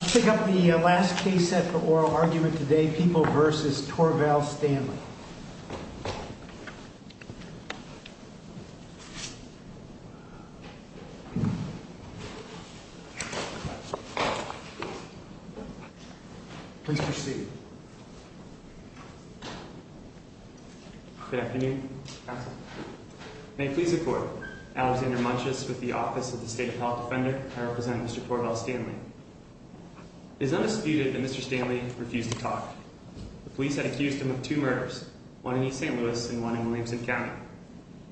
Pick up the last case set for oral argument today, People v. Torvald Stanley. Please proceed. Good afternoon. May it please the Court. Alexander Munches with the Office of the State Appellate Defender. I represent Mr. Torvald Stanley. It is undisputed that Mr. Stanley refused to talk. The police had accused him of two murders, one in East St. Louis and one in Williamson County.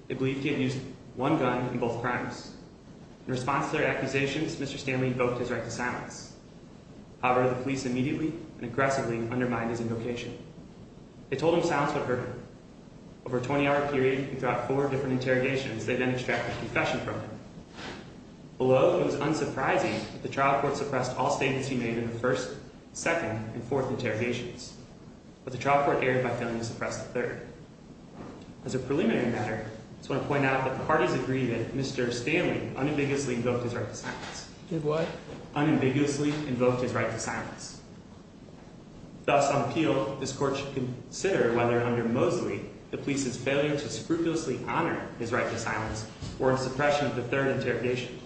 They believed he had used one gun in both crimes. In response to their accusations, Mr. Stanley invoked his right to silence. However, the police immediately and aggressively undermined his invocation. They told him silence would hurt him. Over a 20-hour period and throughout four different interrogations, they then extracted a confession from him. Although it was unsurprising that the trial court suppressed all statements he made in the first, second, and fourth interrogations, but the trial court erred by failing to suppress the third. As a preliminary matter, I just want to point out that the parties agree that Mr. Stanley unambiguously invoked his right to silence. Did what? Unambiguously invoked his right to silence. Thus, on appeal, this court should consider whether, under Mosley, the police's failure to scrupulously honor his right to silence forms suppression of the third interrogation.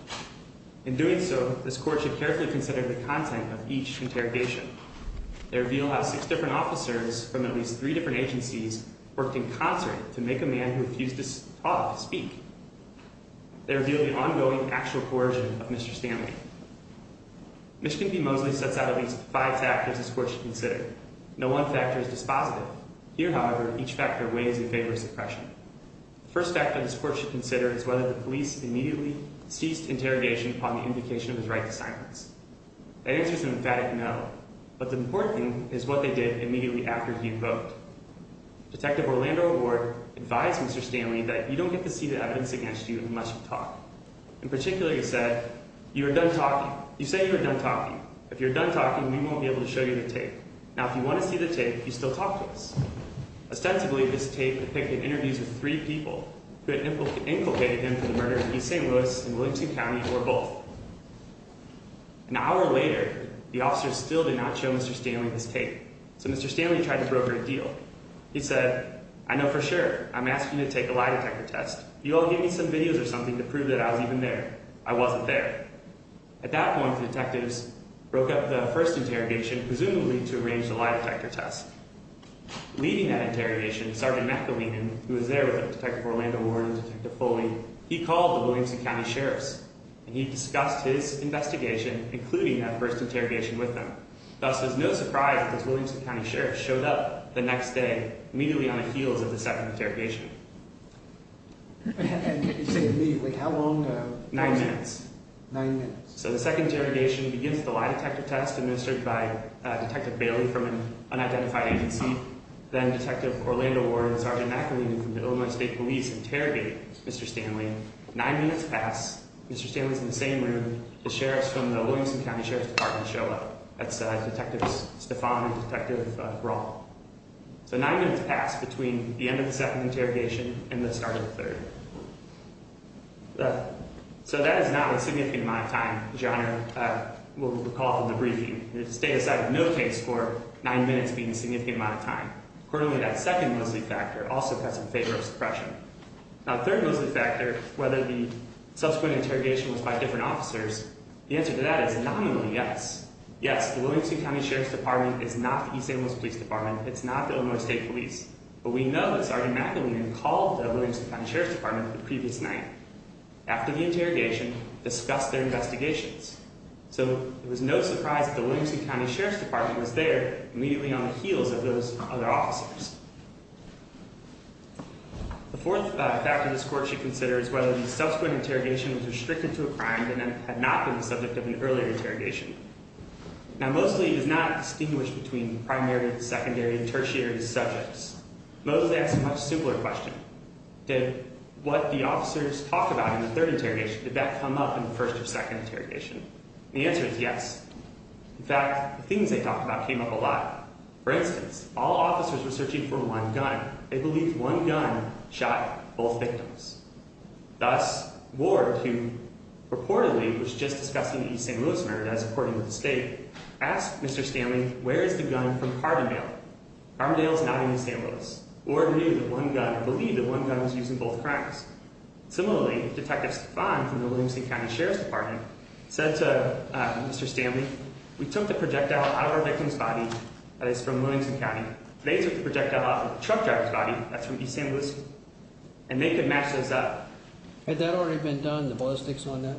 In doing so, this court should carefully consider the content of each interrogation. They reveal how six different officers from at least three different agencies worked in concert to make a man who refused to talk speak. They reveal the ongoing actual coercion of Mr. Stanley. Michigan v. Mosley sets out at least five factors this court should consider. No one factor is dispositive. Here, however, each factor weighs in favor of suppression. The first factor this court should consider is whether the police immediately ceased interrogation upon the indication of his right to silence. The answer is an emphatic no, but the important thing is what they did immediately after he invoked. Detective Orlando Ward advised Mr. Stanley that you don't get to see the evidence against you unless you talk. In particular, he said, you are done talking. You say you are done talking. If you are done talking, we won't be able to show you the tape. Now, if you want to see the tape, you still talk to us. Ostensibly, this tape depicted interviews with three people who had inculcated him for the murder in East St. Louis in Williamson County or both. An hour later, the officers still did not show Mr. Stanley his tape. So Mr. Stanley tried to broker a deal. He said, I know for sure I'm asking you to take a lie detector test. You all gave me some videos or something to prove that I was even there. I wasn't there. At that point, the detectives broke up the first interrogation, presumably to arrange the lie detector test. Leading that interrogation, Sergeant McAleenan, who was there with Detective Orlando Ward and Detective Foley, he called the Williamson County sheriffs. And he discussed his investigation, including that first interrogation with them. Thus, it was no surprise that the Williamson County sheriffs showed up the next day, immediately on the heels of the second interrogation. Nine minutes. Nine minutes. So the second interrogation begins with the lie detector test administered by Detective Bailey from an unidentified agency. Then Detective Orlando Ward and Sergeant McAleenan from the Illinois State Police interrogate Mr. Stanley. Nine minutes pass. Mr. Stanley is in the same room. The sheriffs from the Williamson County Sheriff's Department show up. That's Detective Stefan and Detective Raul. So nine minutes pass between the end of the second interrogation and the start of the third. So that is not a significant amount of time, as your Honor will recall from the briefing. The state decided no case for nine minutes being a significant amount of time. Accordingly, that second mostly factor also cuts in favor of suppression. Now third mostly factor, whether the subsequent interrogation was by different officers, the answer to that is nominally yes. Yes, the Williamson County Sheriff's Department is not the East Amos Police Department. It's not the Illinois State Police. But we know that Sergeant McAleenan called the Williamson County Sheriff's Department the previous night after the interrogation, discussed their investigations. So it was no surprise that the Williamson County Sheriff's Department was there immediately on the heels of those other officers. The fourth factor this Court should consider is whether the subsequent interrogation was restricted to a crime that had not been the subject of an earlier interrogation. Now mostly does not distinguish between primary, secondary, and tertiary subjects. Mostly asks a much simpler question. Did what the officers talked about in the third interrogation, did that come up in the first or second interrogation? And the answer is yes. In fact, the things they talked about came up a lot. For instance, all officers were searching for one gun. They believed one gun shot both victims. Thus, Ward, who reportedly was just discussing the East St. Louis murder as according to the State, asked Mr. Stanley, where is the gun from Carbondale? Carbondale is not in East St. Louis. Ward knew that one gun, or believed that one gun was used in both crimes. Similarly, Detective Stefan from the Williamson County Sheriff's Department said to Mr. Stanley, we took the projectile out of the victim's body, that is from Williamson County. They took the projectile out of the truck driver's body, that's from East St. Louis, and they could match those up. Had that already been done, the ballistics on that?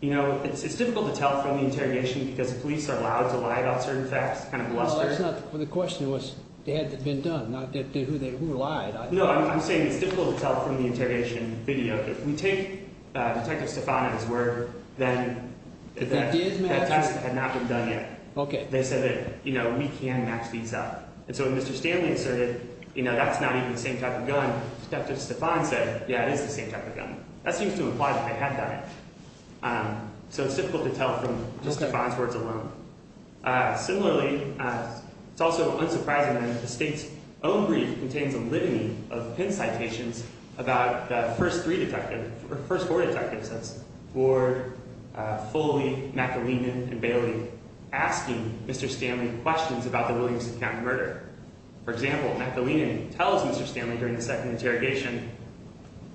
You know, it's difficult to tell from the interrogation because the police are allowed to lie about certain facts, kind of bluster. Well, that's not, the question was, they had it been done, not who lied. No, I'm saying it's difficult to tell from the interrogation video. If we take Detective Stefan and his word, then that test had not been done yet. They said that, you know, we can match these up. And so when Mr. Stanley asserted, you know, that's not even the same type of gun, Detective Stefan said, yeah, it is the same type of gun. That seems to imply that they had done it. So it's difficult to tell from just Stefan's words alone. Similarly, it's also unsurprising that the state's own brief contains a litany of pinned citations about the first three detectives, or first four detectives, that's Ward, Foley, McAleenan, and Bailey, asking Mr. Stanley questions about the Williamson County murder. For example, McAleenan tells Mr. Stanley during the second interrogation,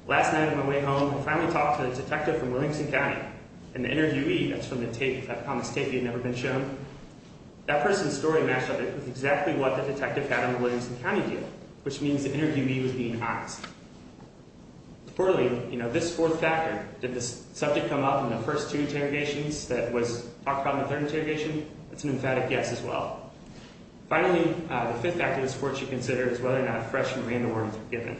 Last night on my way home, I finally talked to the detective from Williamson County and the interviewee, that's from the tape, that Thomas tape that had never been shown. That person's story matched up with exactly what the detective had on the Williamson County deal, which means the interviewee was being honest. So clearly, you know, this fourth factor, did the subject come up in the first two interrogations that was talked about in the third interrogation? That's an emphatic yes as well. Finally, the fifth factor this court should consider is whether or not fresh and random words were given.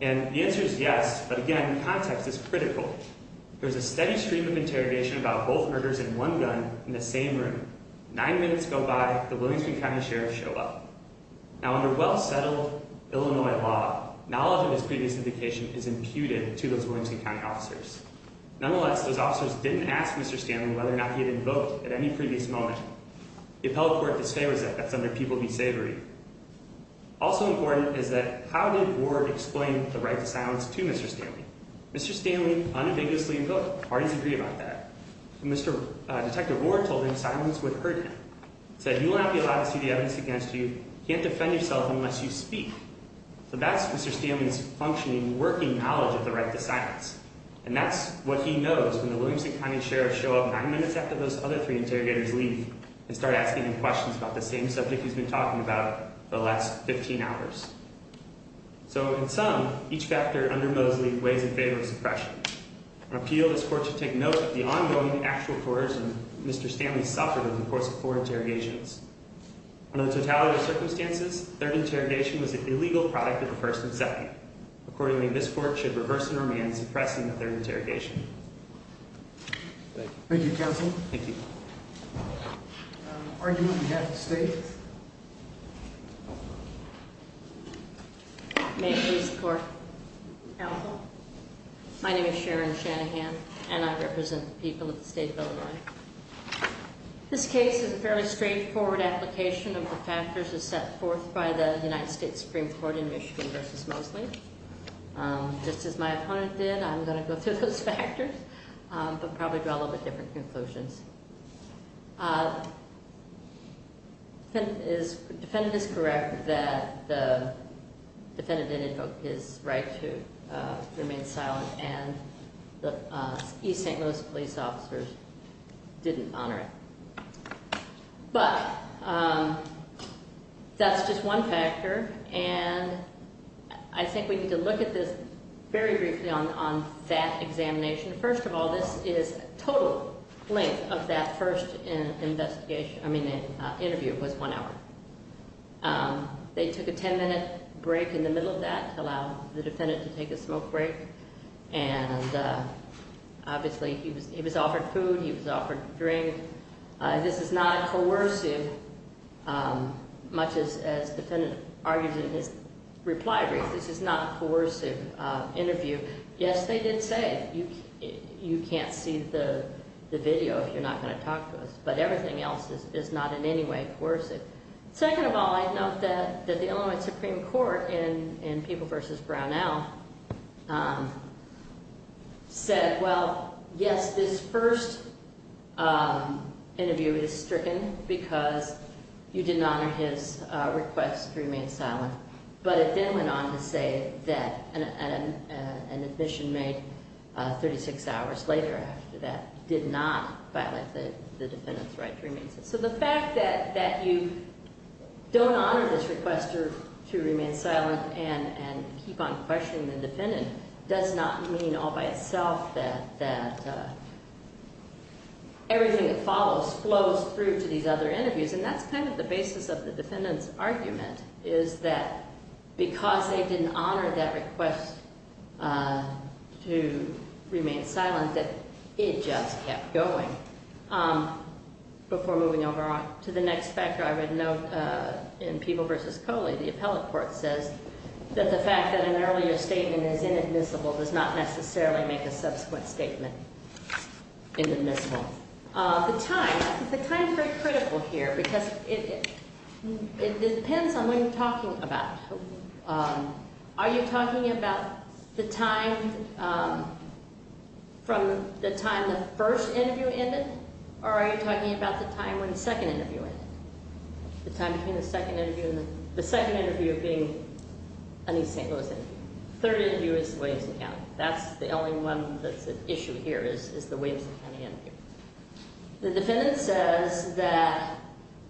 And the answer is yes, but again, context is critical. There's a steady stream of interrogation about both murders and one gun in the same room. Nine minutes go by, the Williamson County Sheriff show up. Now under well-settled Illinois law, knowledge of his previous indication is imputed to those Williamson County officers. Nonetheless, those officers didn't ask Mr. Stanley whether or not he had invoked at any previous moment. The appellate court disfavors that, that's under People v. Savory. Also important is that how did Ward explain the right to silence to Mr. Stanley? Mr. Stanley unambiguously invoked. Parties agree about that. Mr. Detective Ward told him silence would hurt him. Said, you will not be allowed to see the evidence against you. Can't defend yourself unless you speak. So that's Mr. Stanley's functioning, working knowledge of the right to silence. And that's what he knows when the Williamson County Sheriff show up nine minutes after those other three interrogators leave and start asking him questions about the same subject he's been talking about for the last 15 hours. So in sum, each factor under Mosley weighs in favor of suppression. I appeal this court to take note of the ongoing actual coercion Mr. Stanley suffered in the course of four interrogations. Under the totality of circumstances, third interrogation was an illegal product of the first and second. Accordingly, this court should reverse the norm and suppress the third interrogation. Thank you. Thank you, counsel. Thank you. Argument on behalf of the state. May it please the court. Counsel. My name is Sharon Shanahan, and I represent the people of the state of Illinois. This case is a fairly straightforward application of the factors as set forth by the United States Supreme Court in Michigan v. Mosley. Just as my opponent did, I'm going to go through those factors, but probably draw a little bit different conclusions. The defendant is correct that the defendant didn't invoke his right to remain silent, and the East St. Louis police officers didn't honor it. But that's just one factor, and I think we need to look at this very briefly on that examination. First of all, this is total length of that first investigation – I mean interview was one hour. They took a ten-minute break in the middle of that to allow the defendant to take a smoke break, and obviously he was offered food, he was offered a drink. This is not a coercive, much as the defendant argued in his reply brief, this is not a coercive interview. Yes, they did say it. You can't see the video if you're not going to talk to us, but everything else is not in any way coercive. Second of all, I'd note that the Illinois Supreme Court in People v. Brownell said, well, yes, this first interview is stricken because you did not honor his request to remain silent. But it then went on to say that an admission made 36 hours later after that did not violate the defendant's right to remain silent. So the fact that you don't honor this request to remain silent and keep on questioning the defendant does not mean all by itself that everything that follows flows through to these other interviews. And that's kind of the basis of the defendant's argument, is that because they didn't honor that request to remain silent that it just kept going. Before moving over to the next factor, I would note in People v. Coley, the appellate court says that the fact that an earlier statement is inadmissible does not necessarily make a subsequent statement inadmissible. The time, the time is very critical here because it depends on what you're talking about. Are you talking about the time from the time the first interview ended, or are you talking about the time when the second interview ended? The time between the second interview and the second interview being a new St. Louis interview. The third interview is the Williamson County. That's the only one that's at issue here is the Williamson County interview. The defendant says that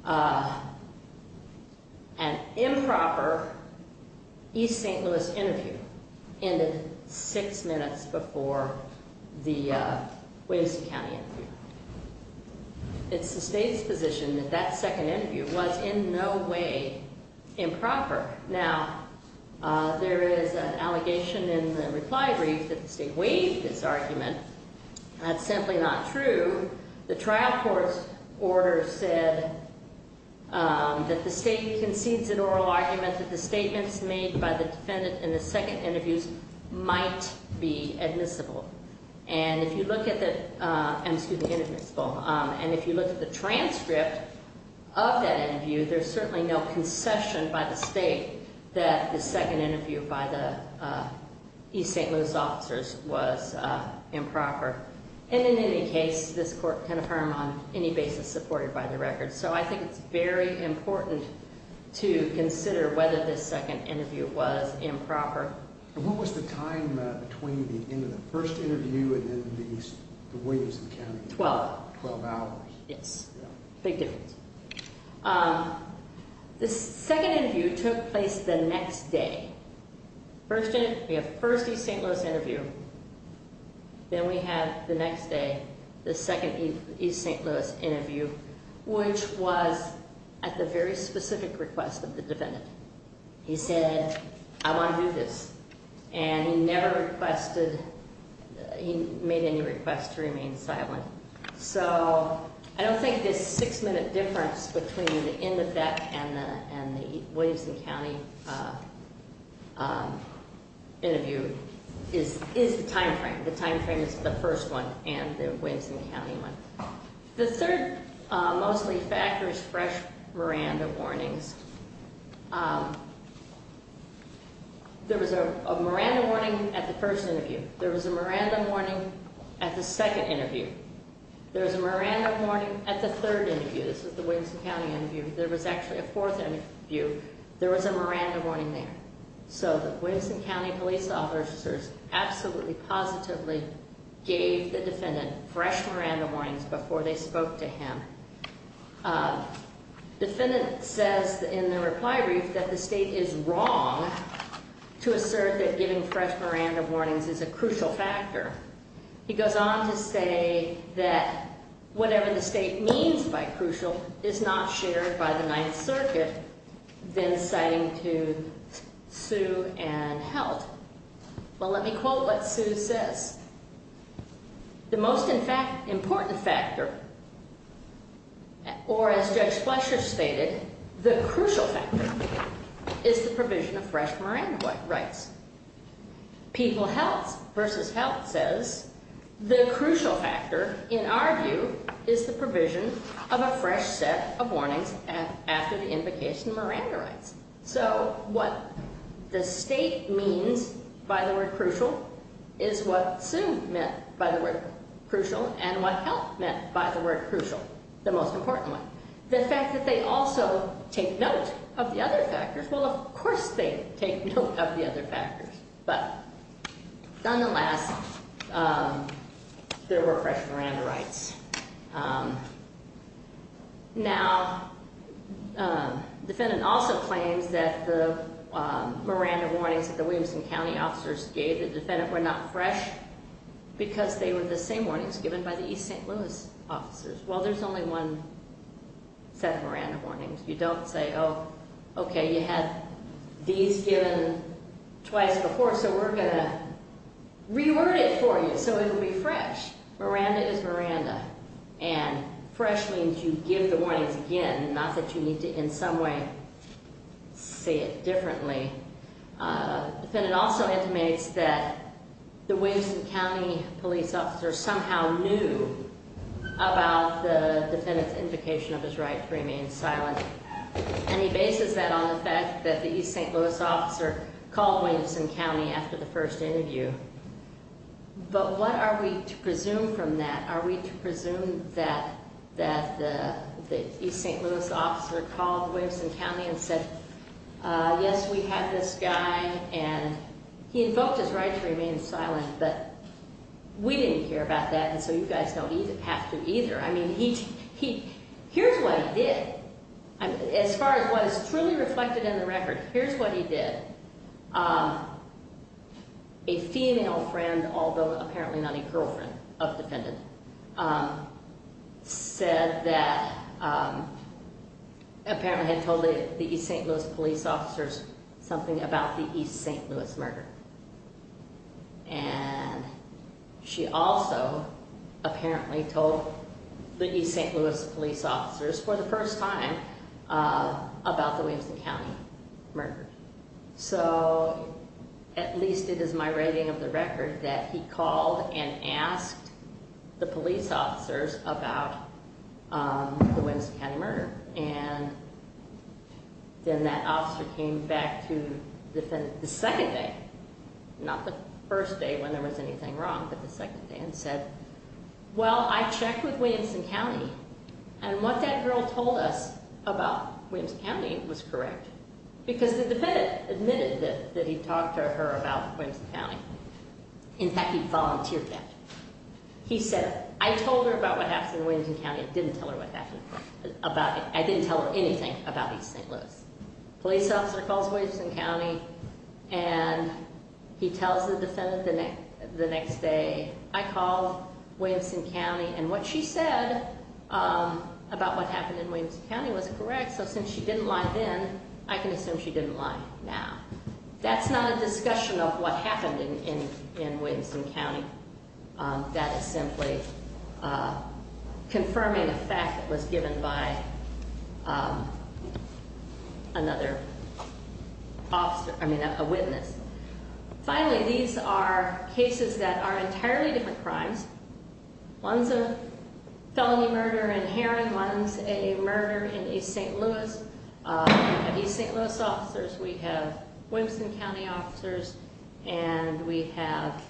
an improper East St. Louis interview ended six minutes before the Williamson County interview. It's the state's position that that second interview was in no way improper. Now, there is an allegation in the reply brief that the state waived this argument. That's simply not true. The trial court's order said that the state concedes an oral argument that the statements made by the defendant in the second interviews might be admissible. And if you look at the transcript of that interview, there's certainly no concession by the state that the second interview by the East St. Louis officers was improper. And in any case, this court can affirm on any basis supported by the record. So I think it's very important to consider whether this second interview was improper. And what was the time between the end of the first interview and the end of the Williamson County interview? Twelve. Twelve hours. Yes. Big difference. The second interview took place the next day. We have the first East St. Louis interview. Then we have the next day, the second East St. Louis interview, which was at the very specific request of the defendant. He said, I want to do this. And he never requested, he made any request to remain silent. So I don't think this six-minute difference between the end of that and the Williamson County interview is the time frame. The time frame is the first one and the Williamson County one. The third mostly factors fresh Miranda warnings. There was a Miranda warning at the first interview. There was a Miranda warning at the second interview. There was a Miranda warning at the third interview. This is the Williamson County interview. There was actually a fourth interview. There was a Miranda warning there. So the Williamson County police officers absolutely positively gave the defendant fresh Miranda warnings before they spoke to him. Defendant says in the reply brief that the state is wrong to assert that giving fresh Miranda warnings is a crucial factor. He goes on to say that whatever the state means by crucial is not shared by the Ninth Circuit, then citing to Sue and Heldt. Well, let me quote what Sue says. The most important factor, or as Judge Fletcher stated, the crucial factor is the provision of fresh Miranda rights. People Heldt versus Heldt says the crucial factor in our view is the provision of a fresh set of warnings after the invocation of Miranda rights. So what the state means by the word crucial is what Sue meant by the word crucial and what Heldt meant by the word crucial, the most important one. The fact that they also take note of the other factors, well, of course they take note of the other factors. But nonetheless, there were fresh Miranda rights. Now, defendant also claims that the Miranda warnings that the Williamson County officers gave the defendant were not fresh because they were the same warnings given by the East St. Louis officers. Well, there's only one set of Miranda warnings. You don't say, oh, okay, you had these given twice before, so we're going to reword it for you so it will be fresh. Miranda is Miranda. And fresh means you give the warnings again, not that you need to in some way say it differently. Defendant also intimates that the Williamson County police officer somehow knew about the defendant's invocation of his right to remain silent. And he bases that on the fact that the East St. Louis officer called Williamson County after the first interview. But what are we to presume from that? Are we to presume that the East St. Louis officer called Williamson County and said, yes, we have this guy, and he invoked his right to remain silent. But we didn't hear about that, and so you guys don't have to either. I mean, here's what he did. As far as what is truly reflected in the record, here's what he did. A female friend, although apparently not a girlfriend of the defendant, said that apparently had told the East St. Louis police officers something about the East St. Louis murder. And she also apparently told the East St. Louis police officers for the first time about the Williamson County murder. So at least it is my rating of the record that he called and asked the police officers about the Williamson County murder. And then that officer came back to the defendant the second day, not the first day when there was anything wrong, but the second day, and said, well, I checked with Williamson County. And what that girl told us about Williamson County was correct, because the defendant admitted that he talked to her about Williamson County. In fact, he volunteered that. He said, I told her about what happened in Williamson County. I didn't tell her anything about East St. Louis. Police officer calls Williamson County, and he tells the defendant the next day, I called Williamson County, and what she said about what happened in Williamson County was correct. So since she didn't lie then, I can assume she didn't lie now. That's not a discussion of what happened in Williamson County. That is simply confirming a fact that was given by another officer, I mean, a witness. Finally, these are cases that are entirely different crimes. One's a felony murder in Heron. One's a murder in East St. Louis. We have East St. Louis officers. We have Williamson County officers. And we have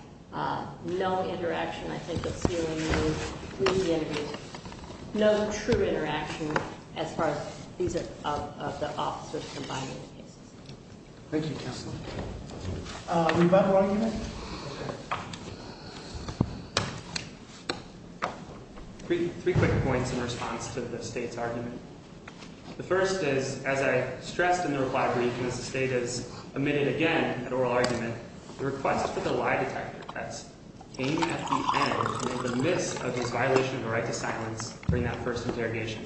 no interaction, I think, with CLA. No true interaction as far as these are the officers combining the cases. Thank you, Counselor. Rebuttal argument? Three quick points in response to the state's argument. The first is, as I stressed in the reply brief when the state has omitted again an oral argument, the request for the lie detector test came at the end, in the midst of this violation of the right to silence during that first interrogation.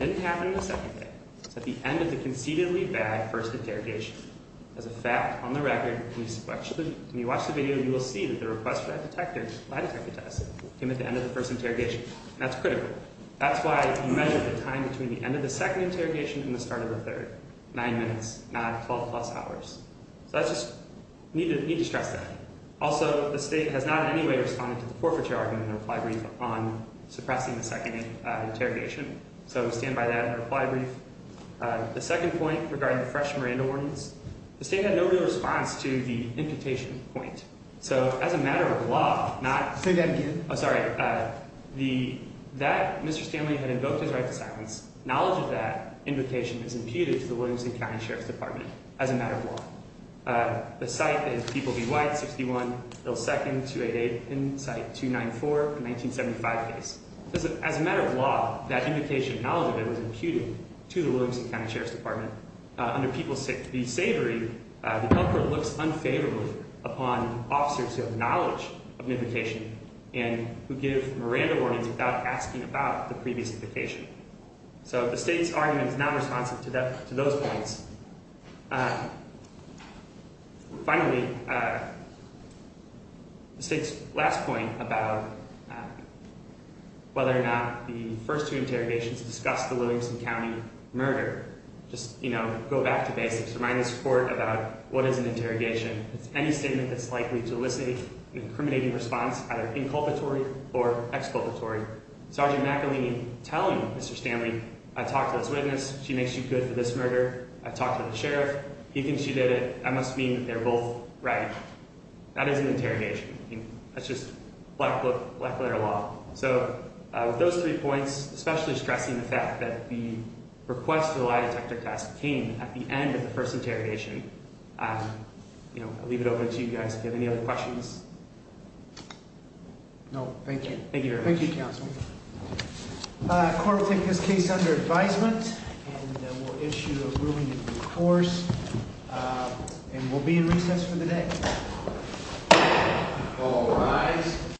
It didn't happen the second day. It's at the end of the conceitedly bad first interrogation. As a fact, on the record, when you watch the video, you will see that the request for that lie detector test came at the end of the first interrogation. And that's critical. That's why you measure the time between the end of the second interrogation and the start of the third. Nine minutes, not 12 plus hours. So I just need to stress that. Also, the state has not in any way responded to the forfeiture argument in the reply brief on suppressing the second interrogation. So we stand by that in the reply brief. The second point regarding the fresh Miranda warnings, the state had no real response to the imputation point. So as a matter of law, not- Say that again. Oh, sorry. That Mr. Stanley had invoked his right to silence. Knowledge of that invocation is imputed to the Williamson County Sheriff's Department as a matter of law. The site is People v. White, 61 Little Second, 288, and site 294, a 1975 case. As a matter of law, that invocation knowledge of it was imputed to the Williamson County Sheriff's Department. Under People v. Savory, the public looks unfavorably upon officers who have knowledge of an invocation and who give Miranda warnings without asking about the previous invocation. So the state's argument is not responsive to those points. Finally, the state's last point about whether or not the first two interrogations discussed the Williamson County murder. Just, you know, go back to basics. Remind this court about what is an interrogation. It's any statement that's likely to elicit an incriminating response, either inculpatory or exculpatory. Sergeant McElhaney telling Mr. Stanley, I talked to this witness, she makes you good for this murder. I talked to the sheriff, he thinks you did it, I must mean that they're both right. That is an interrogation. That's just black letter law. So with those three points, especially stressing the fact that the request for the lie detector test came at the end of the first interrogation, I'll leave it open to you guys if you have any other questions. No, thank you. Thank you. Thank you, counsel. Court will take this case under advisement and we'll issue a ruling in due course. And we'll be in recess for the day. All rise.